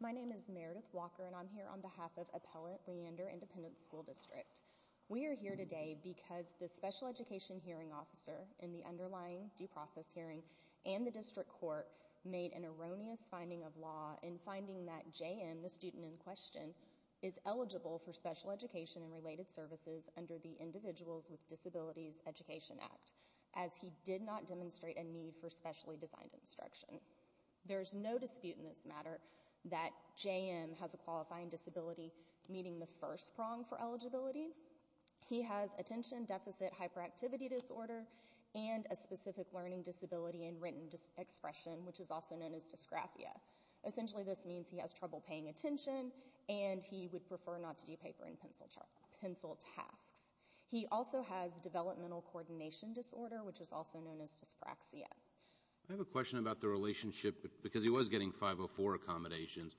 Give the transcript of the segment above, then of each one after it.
My name is Meredith Walker and I'm here on behalf of Appellate Leander Independent School District. We are here today because the Special Education Hearing Officer in the underlying due process hearing and the District Court made an erroneous finding of law in finding that J.M., the student in question, is eligible for special education and related services under the Individuals with Disabilities Education Act, as he did not demonstrate a need for specially designed instruction. There is no dispute in this matter that J.M. has a qualifying disability, meaning the first prong for eligibility. He has attention deficit hyperactivity disorder and a specific learning disability in written expression, which is also known as dysgraphia. Essentially this means he has trouble paying attention and he would prefer not to do paper and pencil tasks. He also has developmental coordination disorder, which is also known as dyspraxia. I have a question about the relationship because he was getting 504 accommodations.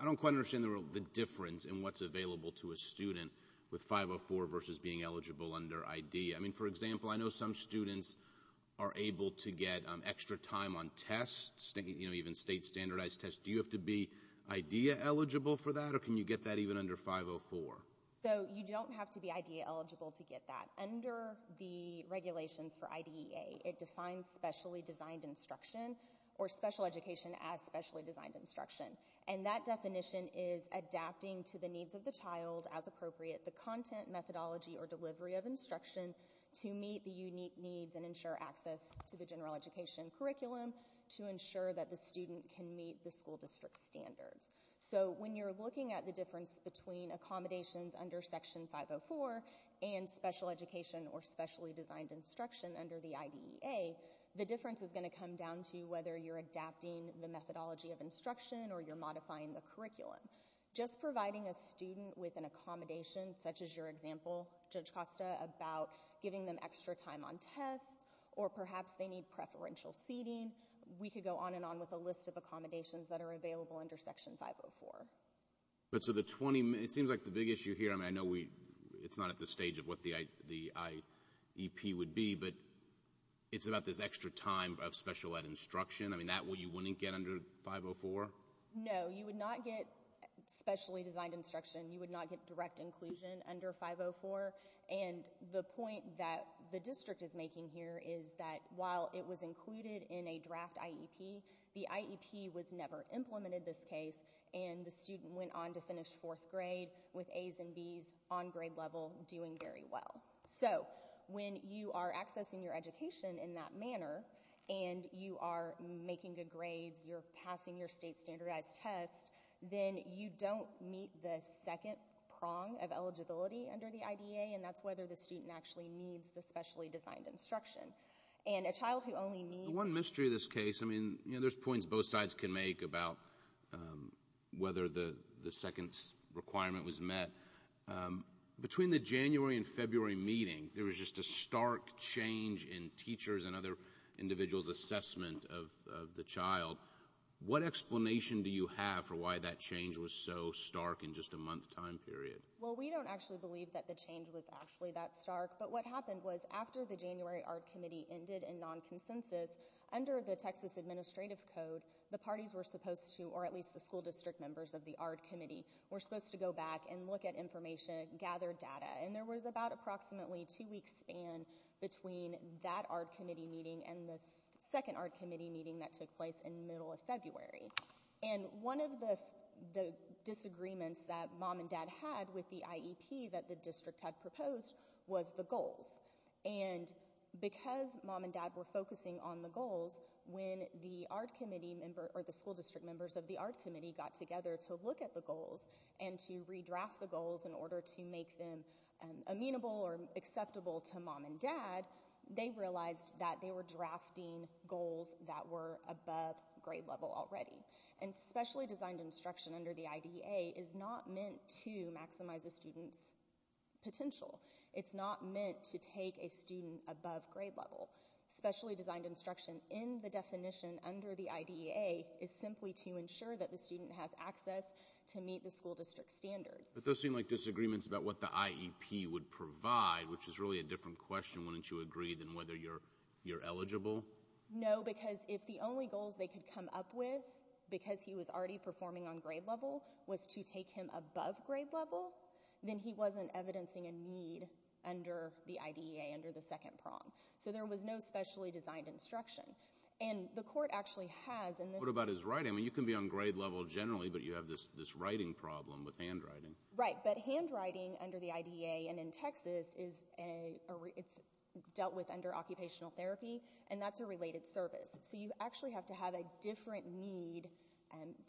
I don't quite understand the difference in what's available to a student with 504 versus being eligible under IDEA. I mean, for example, I know some students are able to get extra time on tests, you know, even state standardized tests. Do you have to be IDEA eligible for that or can you get that even under 504? So you don't have to be IDEA eligible to get that. Under the regulations for IDEA, it defines specially designed instruction or special education as specially designed instruction. And that definition is adapting to the needs of the child as appropriate, the content, methodology, or delivery of instruction to meet the unique needs and ensure access to the general education curriculum to ensure that the student can meet the school district standards. So when you're looking at the difference between accommodations under Section 504 and special education or specially designed instruction under the IDEA, the difference is going to come down to whether you're adapting the methodology of instruction or you're modifying the curriculum. Just providing a student with an accommodation, such as your example, Judge Costa, about giving them extra time on tests or perhaps they need preferential seating, we could go on and on with the list of accommodations that are available under Section 504. But so the 20, it seems like the big issue here, I mean, I know it's not at the stage of what the IEP would be, but it's about this extra time of special ed instruction. I mean, that what you wouldn't get under 504? No, you would not get specially designed instruction. You would not get direct inclusion under 504. And the point that the district is making here is that while it was included in a draft IEP, the IEP was never implemented in this case. And the student went on to finish fourth grade with A's and B's on grade level doing very well. So when you are accessing your education in that manner and you are making good grades, you're passing your state standardized test, then you don't meet the second prong of eligibility under the IDA, and that's whether the student actually needs the specially designed instruction. And a child who only needs- One mystery of this case, I mean, there's points both sides can make about whether the second requirement was met. Between the January and February meeting, there was just a stark change in teachers' and other individuals' assessment of the child. What explanation do you have for why that change was so stark in just a month's time period? Well, we don't actually believe that the change was actually that stark, but what happened was after the January ARD Committee ended in non-consensus, under the Texas Administrative Code, the parties were supposed to, or at least the school district members of the ARD Committee, were supposed to go back and look at information, gather data. And there was about approximately a two-week span between that ARD Committee meeting and the second ARD Committee meeting that took place in the middle of February. And one of the disagreements that Mom and Dad had with the IEP that the district had proposed was the goals. And because Mom and Dad were focusing on the goals, when the ARD Committee member or the school district members of the ARD Committee got together to look at the goals and to redraft the goals in order to make them amenable or acceptable to Mom and Dad, they realized that they were drafting goals that were above grade level already. And specially designed instruction under the IDEA is not meant to maximize a student's potential. It's not meant to take a student above grade level. Specially designed instruction in the definition under the IDEA is simply to ensure that the student has access to meet the school district standards. But those seem like disagreements about what the IEP would provide, which is really a different question, wouldn't you agree, than whether you're eligible? No, because if the only goals they could come up with, because he was already performing on grade level, was to take him above grade level, then he wasn't evidencing a need under the IDEA, under the second prong. So there was no specially designed instruction. What about his writing? You can be on grade level generally, but you have this writing problem with handwriting. Right, but handwriting under the IDEA and in Texas is dealt with under occupational therapy, and that's a related service. So you actually have to have a different need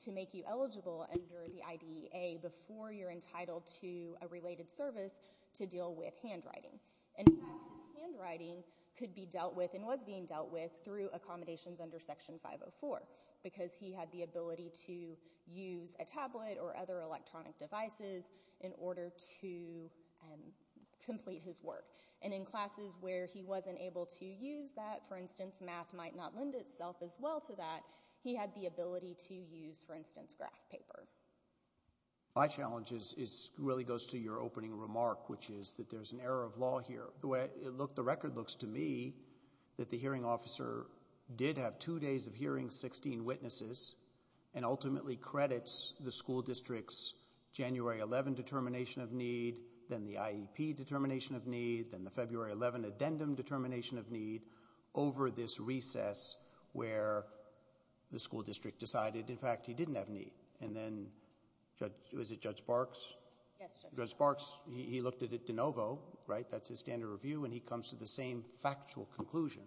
to make you eligible under the IDEA before you're entitled to a related service to deal with handwriting. In fact, his handwriting could be dealt with and was being dealt with through accommodations under Section 504, because he had the ability to use a tablet or other electronic devices in order to complete his work. And in classes where he wasn't able to use that, for instance, math might not lend itself as well to that, he had the ability to use, for instance, graph paper. My challenge really goes to your opening remark, which is that there's an error of law here. The way the record looks to me, that the hearing officer did have two days of hearing, 16 witnesses, and ultimately credits the school district's January 11 determination of need, then the IEP determination of need, then the February 11 addendum determination of need, over this recess where the school district decided, in fact, he didn't have a need. And then, is it Judge Sparks? Yes, Judge Sparks. Judge Sparks, he looked at it de novo, right? That's his standard review, and he comes to the same factual conclusion,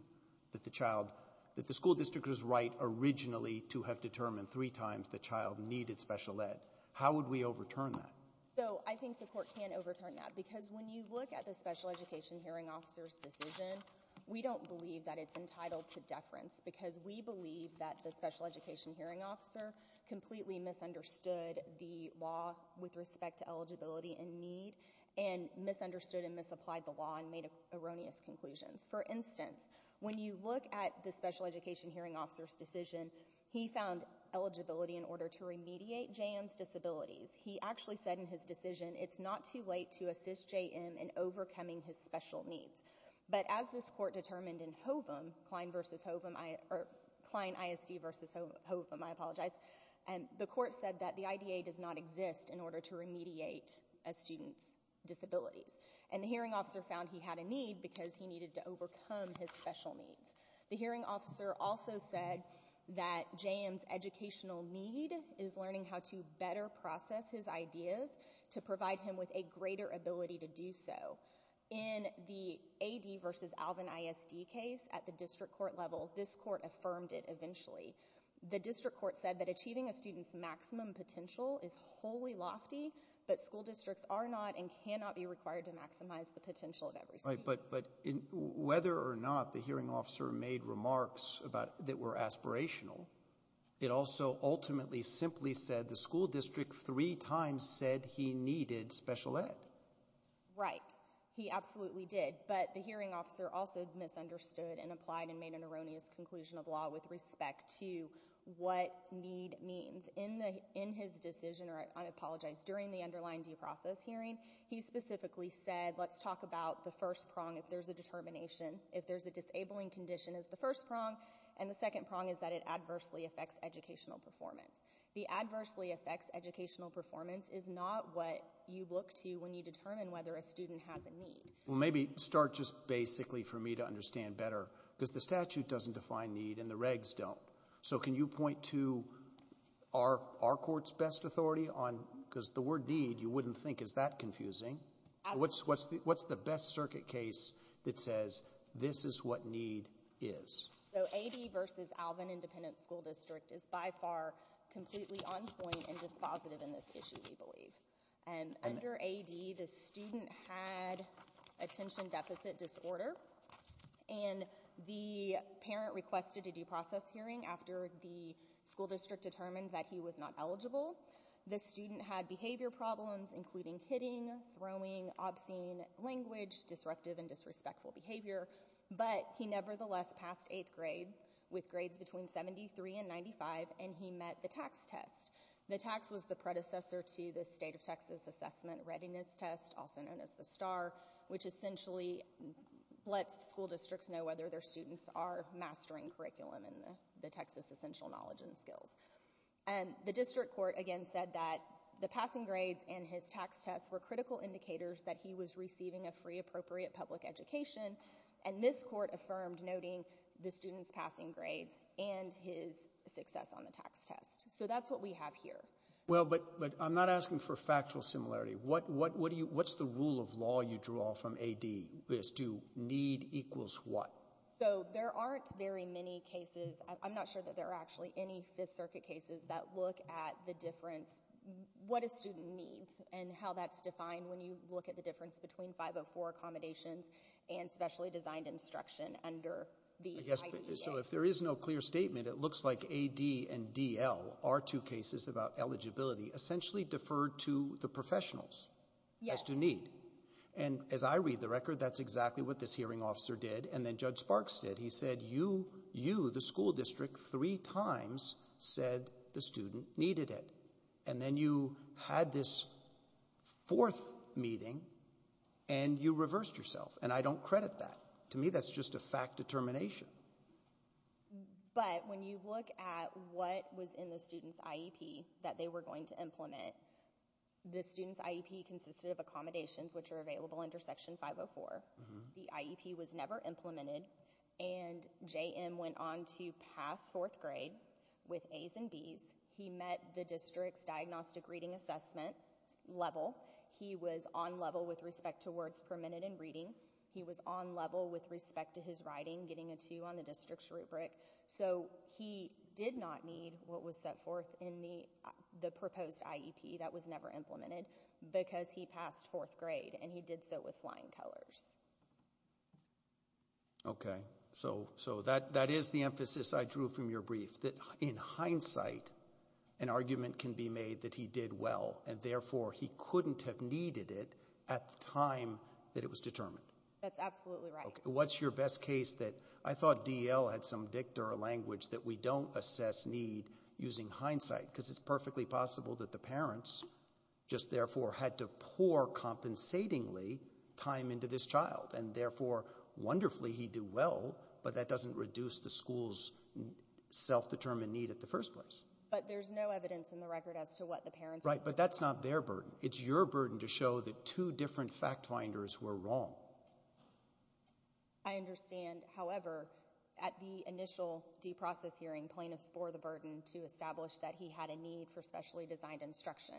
that the school district was right originally to have determined three times the child needed special ed. How would we overturn that? So I think the Court can overturn that, because when you look at the special education hearing officer's decision, we don't believe that it's entitled to deference, because we believe that the special education hearing officer completely misunderstood the law with respect to eligibility and need, and misunderstood and misapplied the law and made erroneous conclusions. For instance, when you look at the special education hearing officer's decision, he found eligibility in order to remediate JM's disabilities. He actually said in his decision, it's not too late to assist JM in overcoming his special needs. But as this Court determined in Hovum, Klein vs. Hovum, or Klein ISD vs. Hovum, I apologize, the Court said that the IDA does not exist in order to remediate a student's disabilities. And the hearing officer found he had a need because he needed to overcome his special needs. The hearing officer also said that JM's educational need is learning how to better process his ideas to provide him with a greater ability to do so. In the AD vs. Alvin ISD case at the district court level, this Court affirmed it eventually. The district court said that achieving a student's maximum potential is wholly lofty, but school districts are not and cannot be required to maximize the potential of every student. Right, but whether or not the hearing officer made remarks that were aspirational, it also ultimately simply said the school district three times said he needed special ed. Right, he absolutely did, but the hearing officer also misunderstood and applied and made an erroneous conclusion of law with respect to what need means. In his decision, or I apologize, during the underlying due process hearing, he specifically said, let's talk about the first prong, if there's a determination, if there's a disabling condition is the first prong, and the second prong is that it adversely affects educational performance. The adversely affects educational performance is not what you look to when you determine whether a student has a need. Maybe start just basically for me to understand better, because the statute doesn't define need and the regs don't. So can you point to our court's best authority on, because the word need you wouldn't think is that confusing. What's the best circuit case that says this is what need is? So AD versus Alvin Independent School District is by far completely on point and dispositive in this issue, we believe. And under AD, the student had attention deficit disorder, and the parent requested a due process hearing after the school district determined that he was not eligible. The student had behavior problems, including hitting, throwing, obscene language, disruptive and disrespectful behavior, but he nevertheless passed eighth grade with grades between 73 and 95, and he met the tax test. The tax was the predecessor to the state of Texas assessment readiness test, also known as the STAR, which essentially lets school districts know whether their students are mastering curriculum in the Texas essential knowledge and skills. And the district court again said that the passing grades and his tax tests were critical indicators that he was receiving a free appropriate public education, and this court affirmed noting the student's passing grades and his success on the tax test. So that's what we have here. Well, but I'm not asking for factual similarity. What's the rule of law you draw from AD is do need equals what? So there aren't very many cases. I'm not sure that there are actually any Fifth Circuit cases that look at the difference, what a student needs and how that's defined when you look at the difference between 504 accommodations and specially designed instruction under the ITDA. So if there is no clear statement, it looks like AD and DL are two cases about eligibility, essentially deferred to the professionals as to need. And as I read the record, that's exactly what this hearing officer did. And then Judge Sparks did. He said you, the school district, three times said the student needed it. And then you had this fourth meeting and you reversed yourself. And I don't credit that. To me, that's just a fact determination. But when you look at what was in the student's IEP that they were going to implement, the student's IEP consisted of accommodations which are available under Section 504. The IEP was never implemented. And JM went on to pass fourth grade with As and Bs. He met the district's diagnostic reading assessment level. He was on level with respect to words permitted in reading. He was on level with respect to his writing, getting a two on the district's rubric. So he did not need what was set forth in the proposed IEP. That was never implemented because he passed fourth grade. And he did so with flying colors. Okay. So that is the emphasis I drew from your brief, that in hindsight an argument can be made that he did well and, therefore, he couldn't have needed it at the time that it was determined. That's absolutely right. What's your best case that I thought D.L. had some dicta or language that we don't assess need using hindsight? Because it's perfectly possible that the parents just, therefore, had to pour compensatingly time into this child and, therefore, wonderfully he did well, but that doesn't reduce the school's self-determined need at the first place. But there's no evidence in the record as to what the parents were doing. Right. But that's not their burden. It's your burden to show that two different fact finders were wrong. I understand. However, at the initial due process hearing, plaintiffs bore the burden to establish that he had a need for specially designed instruction.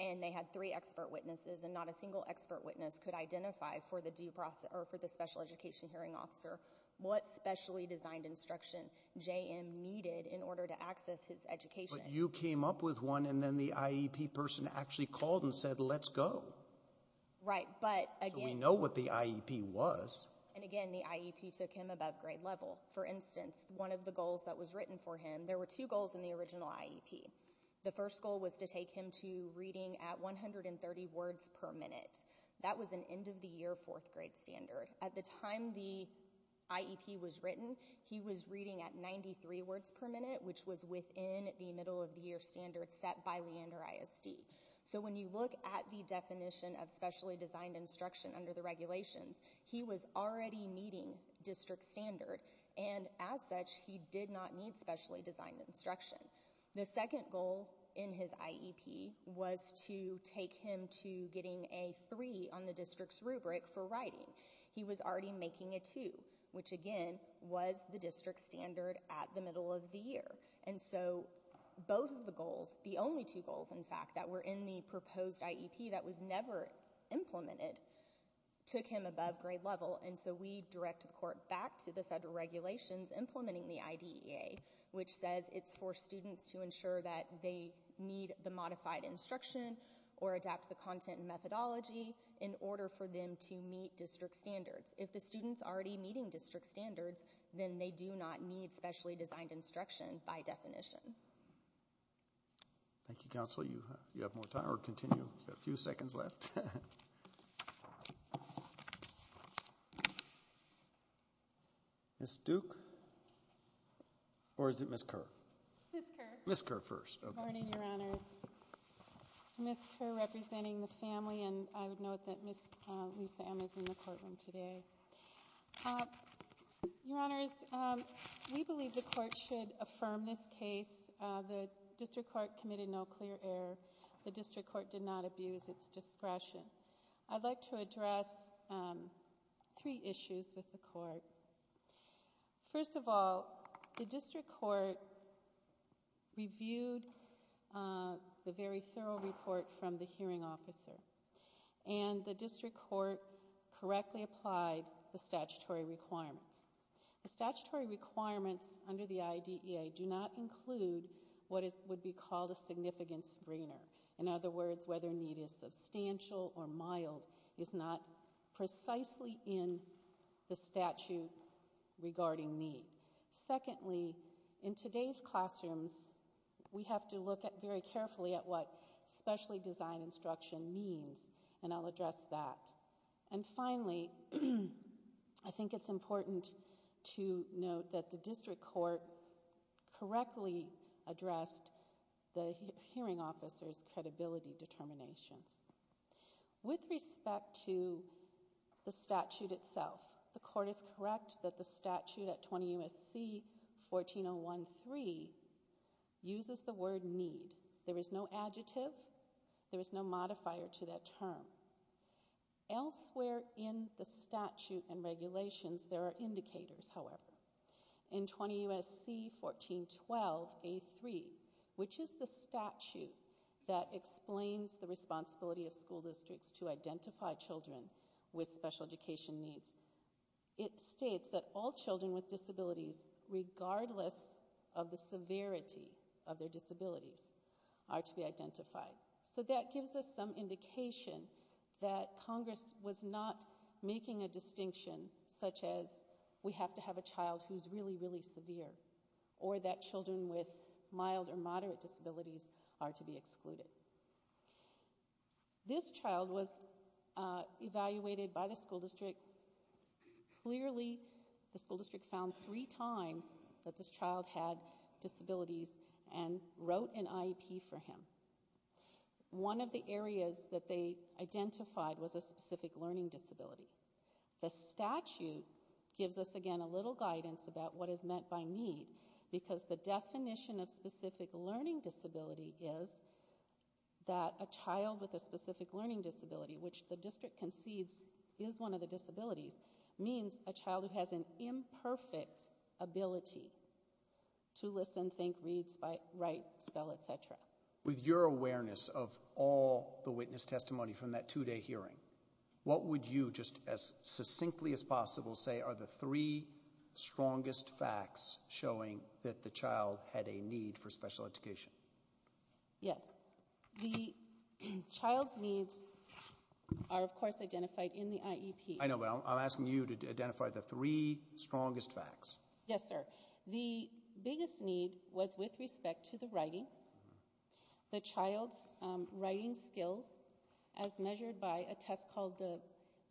And they had three expert witnesses, and not a single expert witness could identify for the special education hearing officer what specially designed instruction J.M. needed in order to access his education. But you came up with one, and then the IEP person actually called and said, let's go. Right. So we know what the IEP was. And, again, the IEP took him above grade level. For instance, one of the goals that was written for him, there were two goals in the original IEP. The first goal was to take him to reading at 130 words per minute. That was an end-of-the-year fourth grade standard. At the time the IEP was written, he was reading at 93 words per minute, which was within the middle-of-the-year standard set by Leander ISD. So when you look at the definition of specially designed instruction under the regulations, he was already meeting district standard. And, as such, he did not need specially designed instruction. The second goal in his IEP was to take him to getting a three on the district's rubric for writing. He was already making a two, which, again, was the district standard at the middle of the year. And so both of the goals, the only two goals, in fact, that were in the proposed IEP that was never implemented, took him above grade level. And so we directed the court back to the federal regulations implementing the IDEA, which says it's for students to ensure that they need the modified instruction or adapt the content and methodology in order for them to meet district standards. If the student's already meeting district standards, then they do not need specially designed instruction by definition. Thank you, Counselor. You have more time or continue? You have a few seconds left. Ms. Duke? Or is it Ms. Kerr? Ms. Kerr. Ms. Kerr first. Good morning, Your Honors. Ms. Kerr representing the family, and I would note that Ms. Lee-Sam is in the courtroom today. Your Honors, we believe the court should affirm this case. The district court committed no clear error. The district court did not abuse its discretion. I'd like to address three issues with the court. First of all, the district court reviewed the very thorough report from the hearing officer, and the district court correctly applied the statutory requirements. The statutory requirements under the IDEA do not include what would be called a significant screener. In other words, whether need is substantial or mild is not precisely in the statute regarding need. Secondly, in today's classrooms, we have to look very carefully at what specially designed instruction means, and I'll address that. And finally, I think it's important to note that the district court correctly addressed the hearing officer's credibility determinations. With respect to the statute itself, the court is correct that the statute at 20 U.S.C. 14013 uses the word need. There is no adjective. There is no modifier to that term. Elsewhere in the statute and regulations, there are indicators, however. In 20 U.S.C. 1412A3, which is the statute that explains the responsibility of school districts to identify children with special education needs, it states that all children with disabilities, regardless of the severity of their disabilities, are to be identified. So that gives us some indication that Congress was not making a distinction such as we have to have a child who's really, really severe, or that children with mild or moderate disabilities are to be excluded. This child was evaluated by the school district. Clearly, the school district found three times that this child had disabilities and wrote an IEP for him. One of the areas that they identified was a specific learning disability. The statute gives us, again, a little guidance about what is meant by need, because the definition of specific learning disability is that a child with a specific learning disability, which the district concedes is one of the disabilities, means a child who has an imperfect ability to listen, think, read, write, spell, et cetera. With your awareness of all the witness testimony from that two-day hearing, what would you just as succinctly as possible say are the three strongest facts showing that the child had a need for special education? Yes. The child's needs are, of course, identified in the IEP. I know, but I'm asking you to identify the three strongest facts. Yes, sir. The biggest need was with respect to the writing. The child's writing skills, as measured by a test called the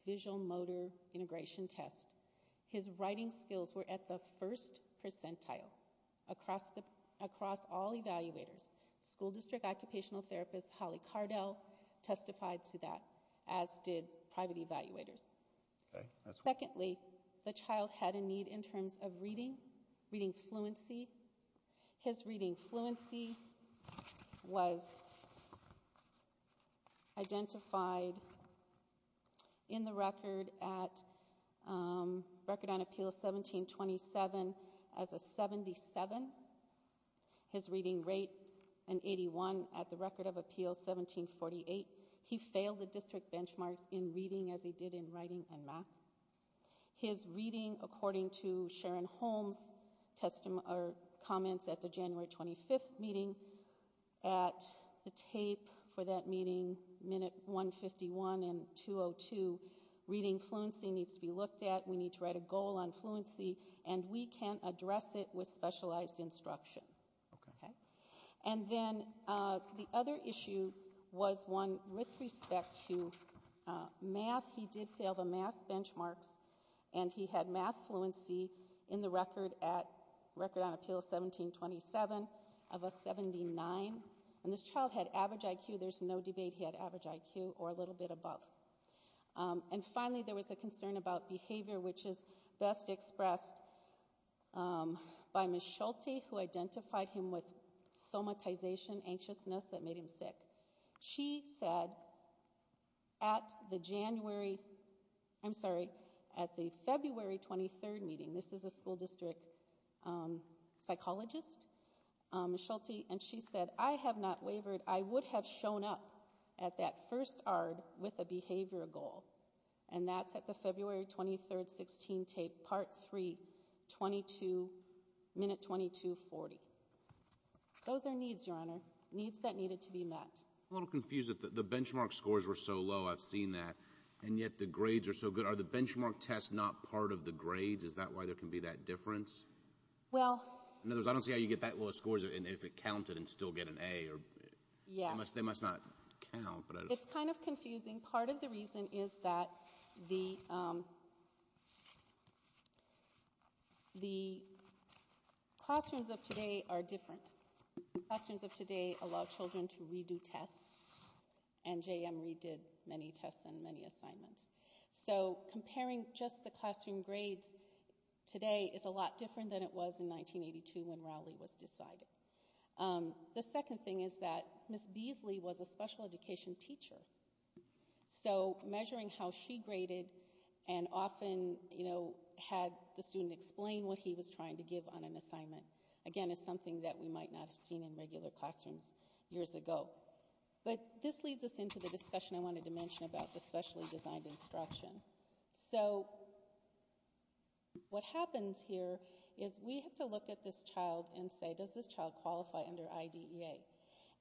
visual motor integration test, his writing skills were at the first percentile across all evaluators. School district occupational therapist Holly Cardell testified to that, as did private evaluators. Secondly, the child had a need in terms of reading, reading fluency. His reading fluency was identified in the record at Record on Appeal 1727 as a 77. His reading rate, an 81, at the Record of Appeal 1748. He failed the district benchmarks in reading as he did in writing and math. His reading, according to Sharon Holmes' comments at the January 25th meeting, at the tape for that meeting, Minute 151 and 202, reading fluency needs to be looked at. We need to write a goal on fluency, and we can't address it with specialized instruction. And then the other issue was one with respect to math. He did fail the math benchmarks, and he had math fluency in the record at Record on Appeal 1727 of a 79. And this child had average IQ. There's no debate he had average IQ or a little bit above. And finally, there was a concern about behavior, which is best expressed by Ms. Schulte, who identified him with somatization, anxiousness that made him sick. She said at the January, I'm sorry, at the February 23rd meeting, this is a school district psychologist, Ms. Schulte, and she said, I have not wavered. I would have shown up at that first ARD with a behavior goal. And that's at the February 23rd, 16 tape, Part 3, 22, Minute 2240. Those are needs, Your Honor, needs that needed to be met. I'm a little confused that the benchmark scores were so low. I've seen that. And yet the grades are so good. Are the benchmark tests not part of the grades? Is that why there can be that difference? In other words, I don't see how you get that low of scores if it counted and still get an A. They must not count. It's kind of confusing. Part of the reason is that the classrooms of today are different. Classrooms of today allow children to redo tests. And JM Reed did many tests and many assignments. So comparing just the classroom grades today is a lot different than it was in 1982 when Rowley was decided. The second thing is that Ms. Beasley was a special education teacher. So measuring how she graded and often, you know, had the student explain what he was trying to give on an assignment, again, is something that we might not have seen in regular classrooms years ago. But this leads us into the discussion I wanted to mention about the specially designed instruction. So what happens here is we have to look at this child and say, does this child qualify under IDEA?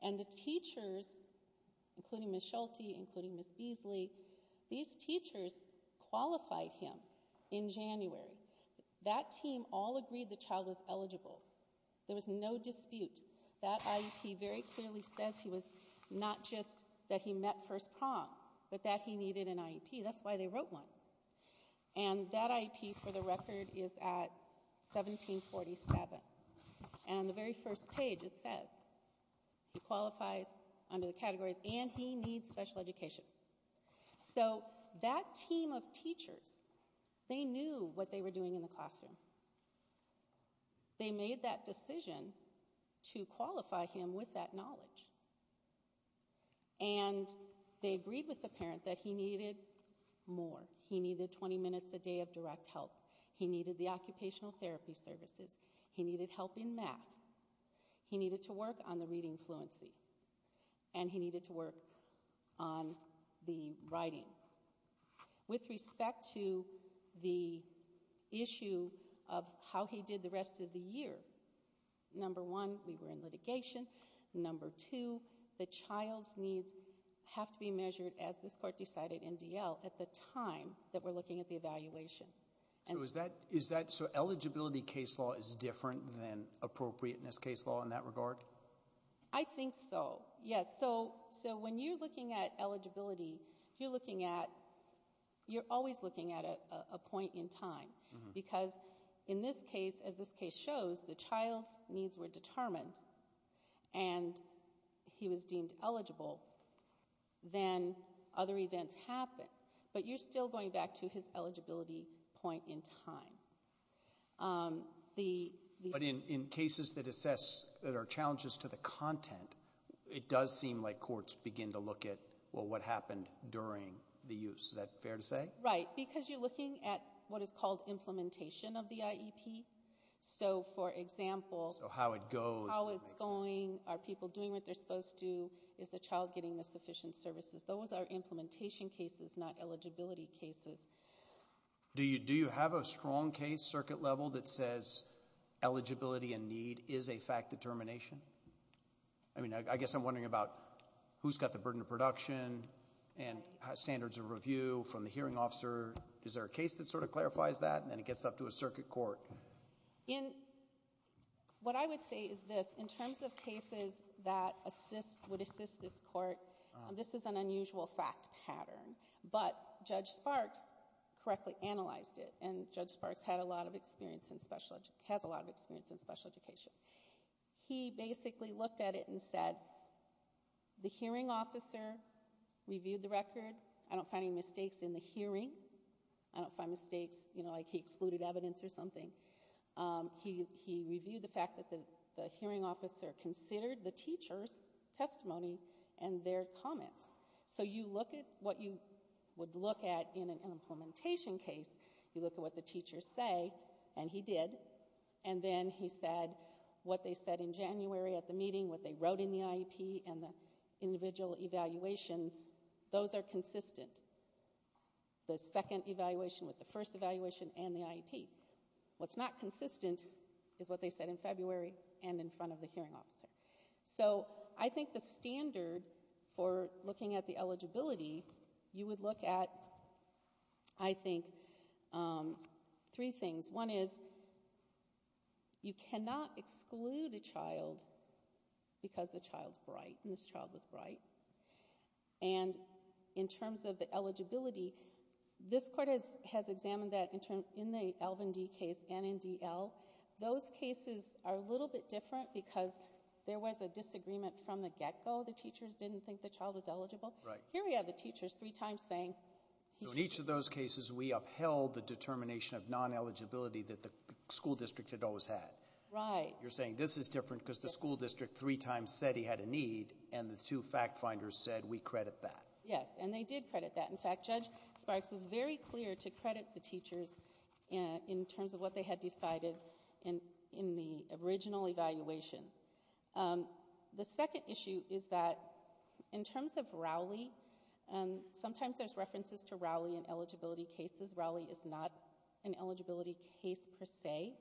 And the teachers, including Ms. Schulte, including Ms. Beasley, these teachers qualified him in January. That team all agreed the child was eligible. There was no dispute. That IEP very clearly says he was not just that he met first prom, but that he needed an IEP. That's why they wrote one. And that IEP, for the record, is at 1747. And the very first page, it says he qualifies under the categories and he needs special education. So that team of teachers, they knew what they were doing in the classroom. They made that decision to qualify him with that knowledge. And they agreed with the parent that he needed more. He needed 20 minutes a day of direct help. He needed the occupational therapy services. He needed help in math. He needed to work on the reading fluency. And he needed to work on the writing. With respect to the issue of how he did the rest of the year, number one, we were in litigation. Number two, the child's needs have to be measured, as this court decided in D.L., at the time that we're looking at the evaluation. So is that so eligibility case law is different than appropriateness case law in that regard? I think so, yes. So when you're looking at eligibility, you're looking at, you're always looking at a point in time. Because in this case, as this case shows, the child's needs were determined and he was deemed eligible. Then other events happened. But you're still going back to his eligibility point in time. But in cases that assess that are challenges to the content, it does seem like courts begin to look at, well, what happened during the use. Is that fair to say? Right, because you're looking at what is called implementation of the IEP. So, for example, how it's going, are people doing what they're supposed to, is the child getting the sufficient services? Those are implementation cases, not eligibility cases. Do you have a strong case, circuit level, that says eligibility and need is a fact determination? I mean, I guess I'm wondering about who's got the burden of production and standards of review from the hearing officer. Is there a case that sort of clarifies that? And then it gets up to a circuit court. What I would say is this. In terms of cases that assist, would assist this court, this is an unusual fact pattern. But Judge Sparks correctly analyzed it, and Judge Sparks has a lot of experience in special education. He basically looked at it and said, the hearing officer reviewed the record. I don't find any mistakes in the hearing. I don't find mistakes, you know, like he excluded evidence or something. He reviewed the fact that the hearing officer considered the teacher's testimony and their comments. So you look at what you would look at in an implementation case, you look at what the teachers say, and he did, and then he said what they said in January at the meeting, what they wrote in the IEP and the individual evaluations, those are consistent. The second evaluation with the first evaluation and the IEP. What's not consistent is what they said in February and in front of the hearing officer. So I think the standard for looking at the eligibility, you would look at, I think, three things. One is you cannot exclude a child because the child's bright and this child was bright. And in terms of the eligibility, this court has examined that in the Elvin D case and in D.L. Those cases are a little bit different because there was a disagreement from the get-go. The teachers didn't think the child was eligible. Here we have the teachers three times saying. So in each of those cases we upheld the determination of non-eligibility that the school district had always had. Right. You're saying this is different because the school district three times said he had a need and the two fact finders said we credit that. Yes, and they did credit that. In fact, Judge Sparks was very clear to credit the teachers in terms of what they had decided in the original evaluation. The second issue is that in terms of Rowley, sometimes there's references to Rowley in eligibility cases. Rowley is not an eligibility case per se.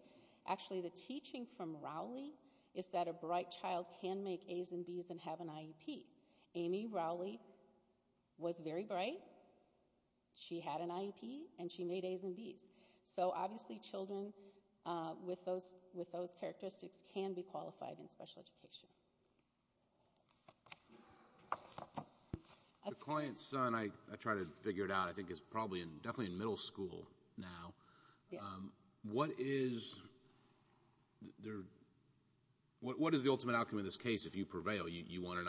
Actually, the teaching from Rowley is that a bright child can make A's and B's and have an IEP. Amy Rowley was very bright. She had an IEP and she made A's and B's. So obviously children with those characteristics can be qualified in special education. The client's son, I try to figure it out, I think is probably definitely in middle school now. What is the ultimate outcome in this case if you prevail? You want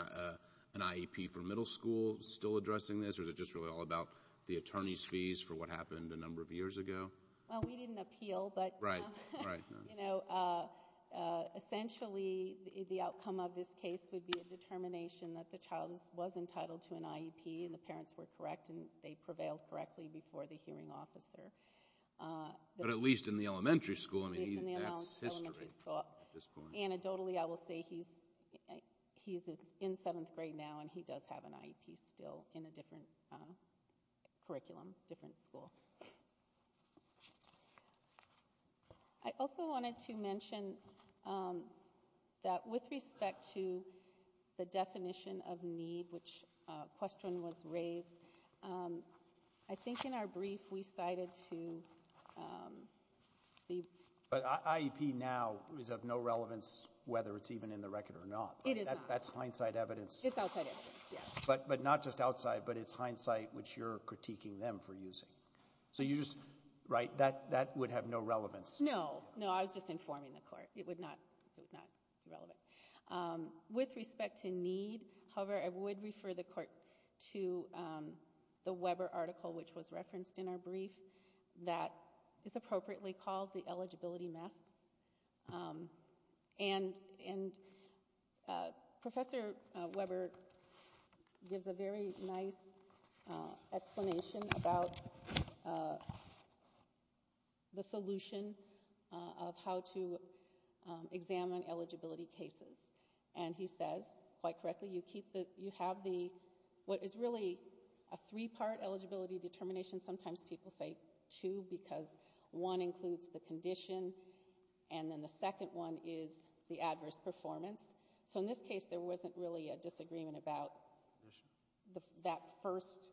an IEP for middle school still addressing this or is it just really all about the attorney's fees for what happened a number of years ago? Well, we didn't appeal, but essentially the outcome of this case would be a determination that the child was entitled to an IEP and the parents were correct and they prevailed correctly before the hearing officer. But at least in the elementary school. At least in the elementary school. So anecdotally I will say he's in seventh grade now and he does have an IEP still in a different curriculum, different school. I also wanted to mention that with respect to the definition of need, which a question was raised, I think in our brief we cited to the But IEP now is of no relevance whether it's even in the record or not. It is not. That's hindsight evidence. It's outside evidence, yes. But not just outside, but it's hindsight which you're critiquing them for using. So you just, right, that would have no relevance. No, no, I was just informing the court. It would not be relevant. With respect to need, however, I would refer the court to the Weber article which was referenced in our brief that is appropriately called the eligibility mess. And Professor Weber gives a very nice explanation about the solution of how to examine eligibility cases. And he says, quite correctly, you have what is really a three-part eligibility determination. Sometimes people say two because one includes the condition and then the second one is the adverse performance. So in this case there wasn't really a disagreement about that first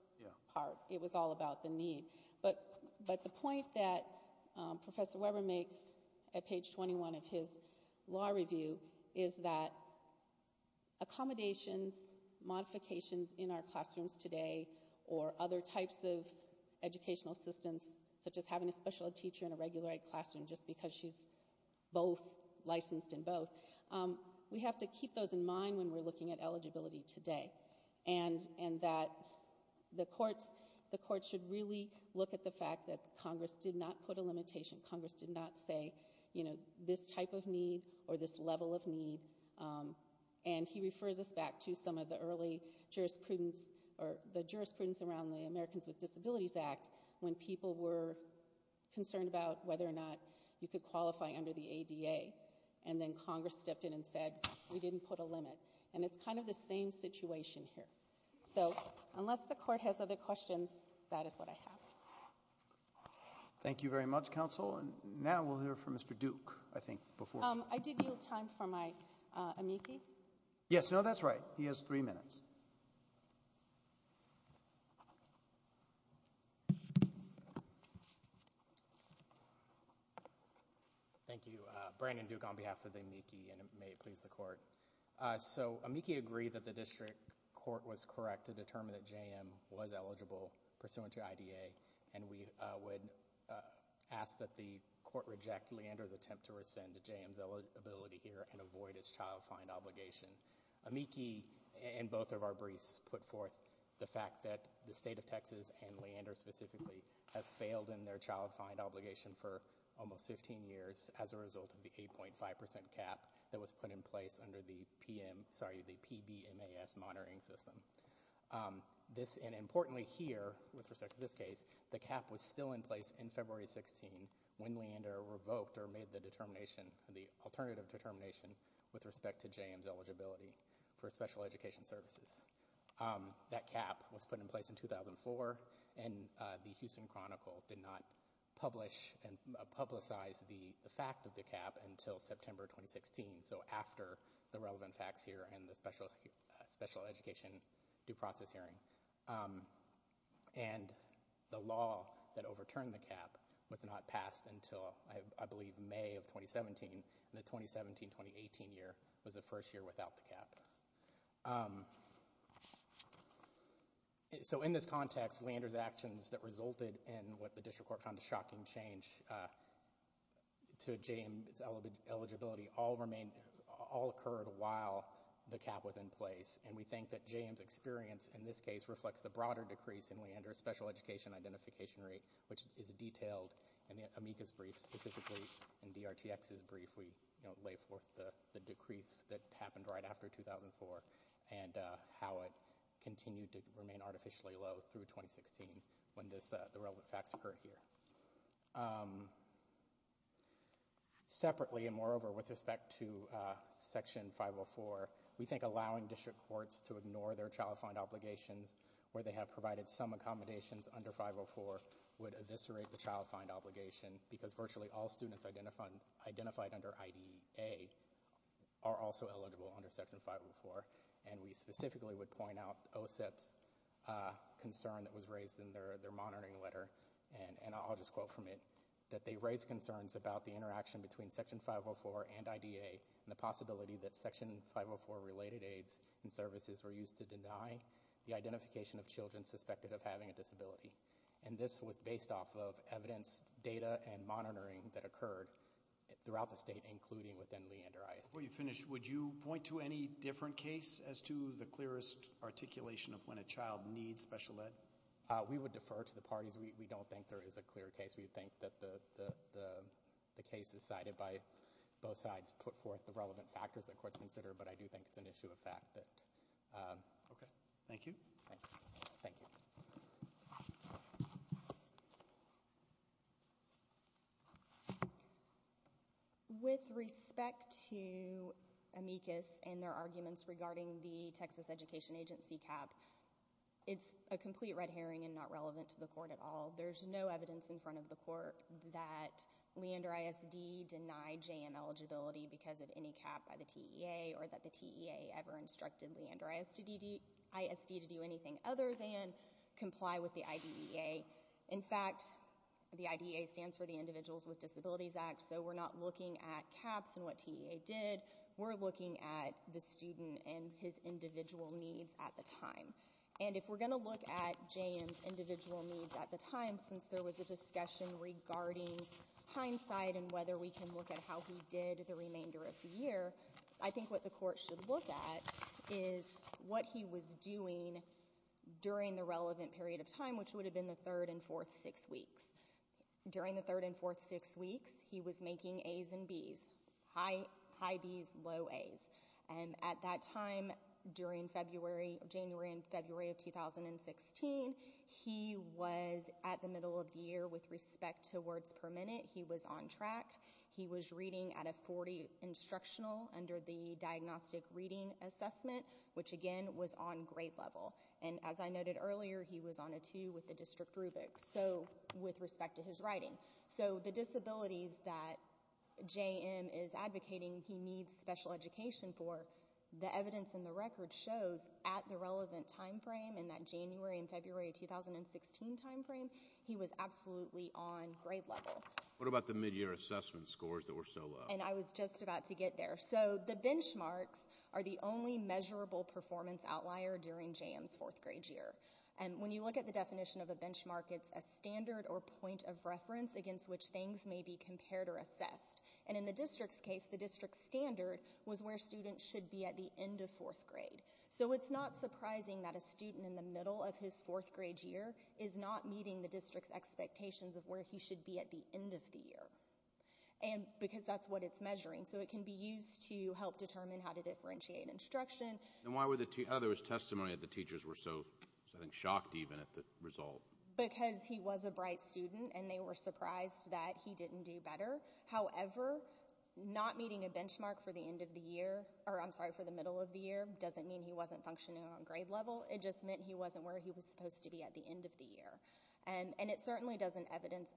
part. It was all about the need. But the point that Professor Weber makes at page 21 of his law review is that accommodations, modifications in our classrooms today, or other types of educational assistance such as having a special ed teacher in a regular ed classroom just because she's both licensed in both, we have to keep those in mind when we're looking at eligibility today. And that the courts should really look at the fact that Congress did not put a limitation. Congress did not say, you know, this type of need or this level of need. And he refers us back to some of the early jurisprudence or the jurisprudence around the Americans with Disabilities Act when people were concerned about whether or not you could qualify under the ADA. And then Congress stepped in and said, we didn't put a limit. And it's kind of the same situation here. So unless the court has other questions, that is what I have. Thank you very much, counsel. And now we'll hear from Mr. Duke, I think, before. I did yield time for my amici. Yes, no, that's right. He has three minutes. Thank you. Brandon Duke on behalf of the amici, and may it please the court. So amici agree that the district court was correct to determine that JM was eligible pursuant to IDA. And we would ask that the court reject Leander's attempt to rescind JM's ability here and avoid his child find obligation. Amici and both of our briefs put forth the fact that the state of Texas and Leander specifically have failed in their child find obligation for almost 15 years as a result of the 8.5% cap that was put in place under the PBMAS monitoring system. And importantly here, with respect to this case, the cap was still in place in February 16 when Leander revoked or made the alternative determination with respect to JM's eligibility for special education services. That cap was put in place in 2004, and the Houston Chronicle did not publish and publicize the fact of the cap until September 2016, so after the relevant facts here and the special education due process hearing. And the law that overturned the cap was not passed until, I believe, May of 2017. The 2017-2018 year was the first year without the cap. So in this context, Leander's actions that resulted in what the district court found a shocking change to JM's eligibility all occurred while the cap was in place. And we think that JM's experience in this case reflects the broader decrease in Leander's special education identification rate, which is detailed in the amicus brief, specifically in DRTX's brief. We lay forth the decrease that happened right after 2004 and how it continued to remain artificially low through 2016 when the relevant facts occur here. Separately and moreover with respect to Section 504, we think allowing district courts to ignore their child find obligations where they have provided some accommodations under 504 would eviscerate the child find obligation because virtually all students identified under IDA are also eligible under Section 504. And we specifically would point out OSEP's concern that was raised in their monitoring letter, and I'll just quote from it, that they raised concerns about the interaction between Section 504 and IDA and the possibility that Section 504-related aids and services were used to deny the identification of children suspected of having a disability. And this was based off of evidence, data, and monitoring that occurred throughout the state, including within Leander ISD. Before you finish, would you point to any different case as to the clearest articulation of when a child needs special ed? We would defer to the parties. We don't think there is a clear case. We think that the case is cited by both sides, put forth the relevant factors that courts consider, but I do think it's an issue of fact. Okay. Thank you. Thanks. Thank you. With respect to amicus and their arguments regarding the Texas Education Agency cap, it's a complete red herring and not relevant to the court at all. There's no evidence in front of the court that Leander ISD denied J.M. eligibility because of any cap by the TEA or that the TEA ever instructed Leander ISD to do anything other than comply with the IDEA. In fact, the IDEA stands for the Individuals with Disabilities Act, so we're not looking at caps and what TEA did. We're looking at the student and his individual needs at the time. And if we're going to look at J.M.'s individual needs at the time, since there was a discussion regarding hindsight and whether we can look at how he did the remainder of the year, I think what the court should look at is what he was doing during the relevant period of time, which would have been the third and fourth six weeks. During the third and fourth six weeks, he was making A's and B's, high B's, low A's. And at that time, during January and February of 2016, he was at the middle of the year. With respect to words per minute, he was on track. He was reading at a 40 instructional under the diagnostic reading assessment, which, again, was on grade level. And as I noted earlier, he was on a two with the district rubric, so with respect to his writing. So the disabilities that J.M. is advocating he needs special education for, the evidence in the record shows at the relevant time frame, in that January and February of 2016 time frame, he was absolutely on grade level. What about the midyear assessment scores that were so low? And I was just about to get there. So the benchmarks are the only measurable performance outlier during J.M.'s fourth grade year. When you look at the definition of a benchmark, it's a standard or point of reference against which things may be compared or assessed. And in the district's case, the district standard was where students should be at the end of fourth grade. So it's not surprising that a student in the middle of his fourth grade year is not meeting the district's expectations of where he should be at the end of the year, because that's what it's measuring. So it can be used to help determine how to differentiate instruction. There was testimony that the teachers were so, I think, shocked even at the result. Because he was a bright student and they were surprised that he didn't do better. However, not meeting a benchmark for the end of the year, or I'm sorry, for the middle of the year, doesn't mean he wasn't functioning on grade level. It just meant he wasn't where he was supposed to be at the end of the year. And it certainly doesn't evidence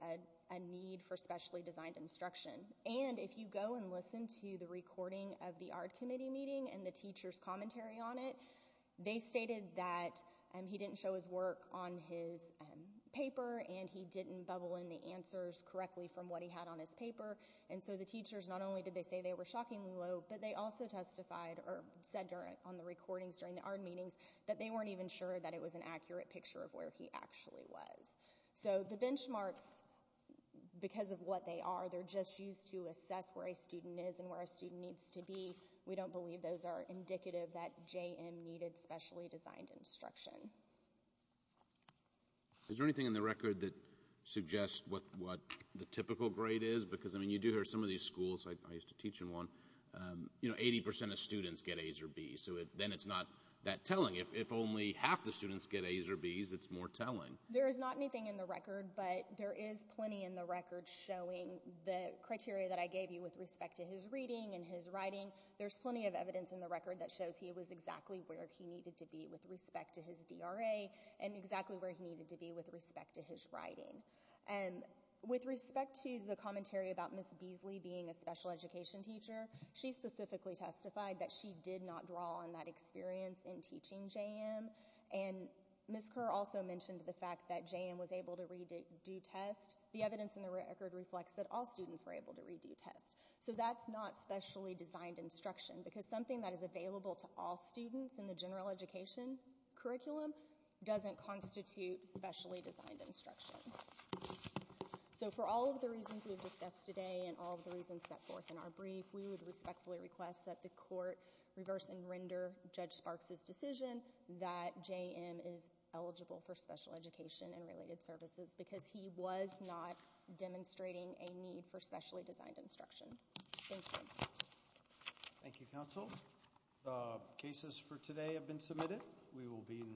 a need for specially designed instruction. And if you go and listen to the recording of the ARD committee meeting and the teacher's commentary on it, they stated that he didn't show his work on his paper and he didn't bubble in the answers correctly from what he had on his paper. And so the teachers, not only did they say they were shockingly low, but they also testified or said on the recordings during the ARD meetings that they weren't even sure that it was an accurate picture of where he actually was. So the benchmarks, because of what they are, they're just used to assess where a student is and where a student needs to be. We don't believe those are indicative that JM needed specially designed instruction. Is there anything in the record that suggests what the typical grade is? Because, I mean, you do hear some of these schools, I used to teach in one, you know, 80% of students get A's or B's. So then it's not that telling. If only half the students get A's or B's, it's more telling. There is not anything in the record, but there is plenty in the record showing the criteria that I gave you with respect to his reading and his writing. There's plenty of evidence in the record that shows he was exactly where he needed to be with respect to his DRA and exactly where he needed to be with respect to his writing. With respect to the commentary about Ms. Beasley being a special education teacher, she specifically testified that she did not draw on that experience in teaching JM. And Ms. Kerr also mentioned the fact that JM was able to redo tests. The evidence in the record reflects that all students were able to redo tests. So that's not specially designed instruction. Because something that is available to all students in the general education curriculum doesn't constitute specially designed instruction. So for all of the reasons we've discussed today and all of the reasons set forth in our brief, we would respectfully request that the court reverse and render Judge Sparks' decision that JM is eligible for special education and related services because he was not demonstrating a need for specially designed instruction. Thank you. Thank you, counsel. The cases for today have been submitted. We will be in recess.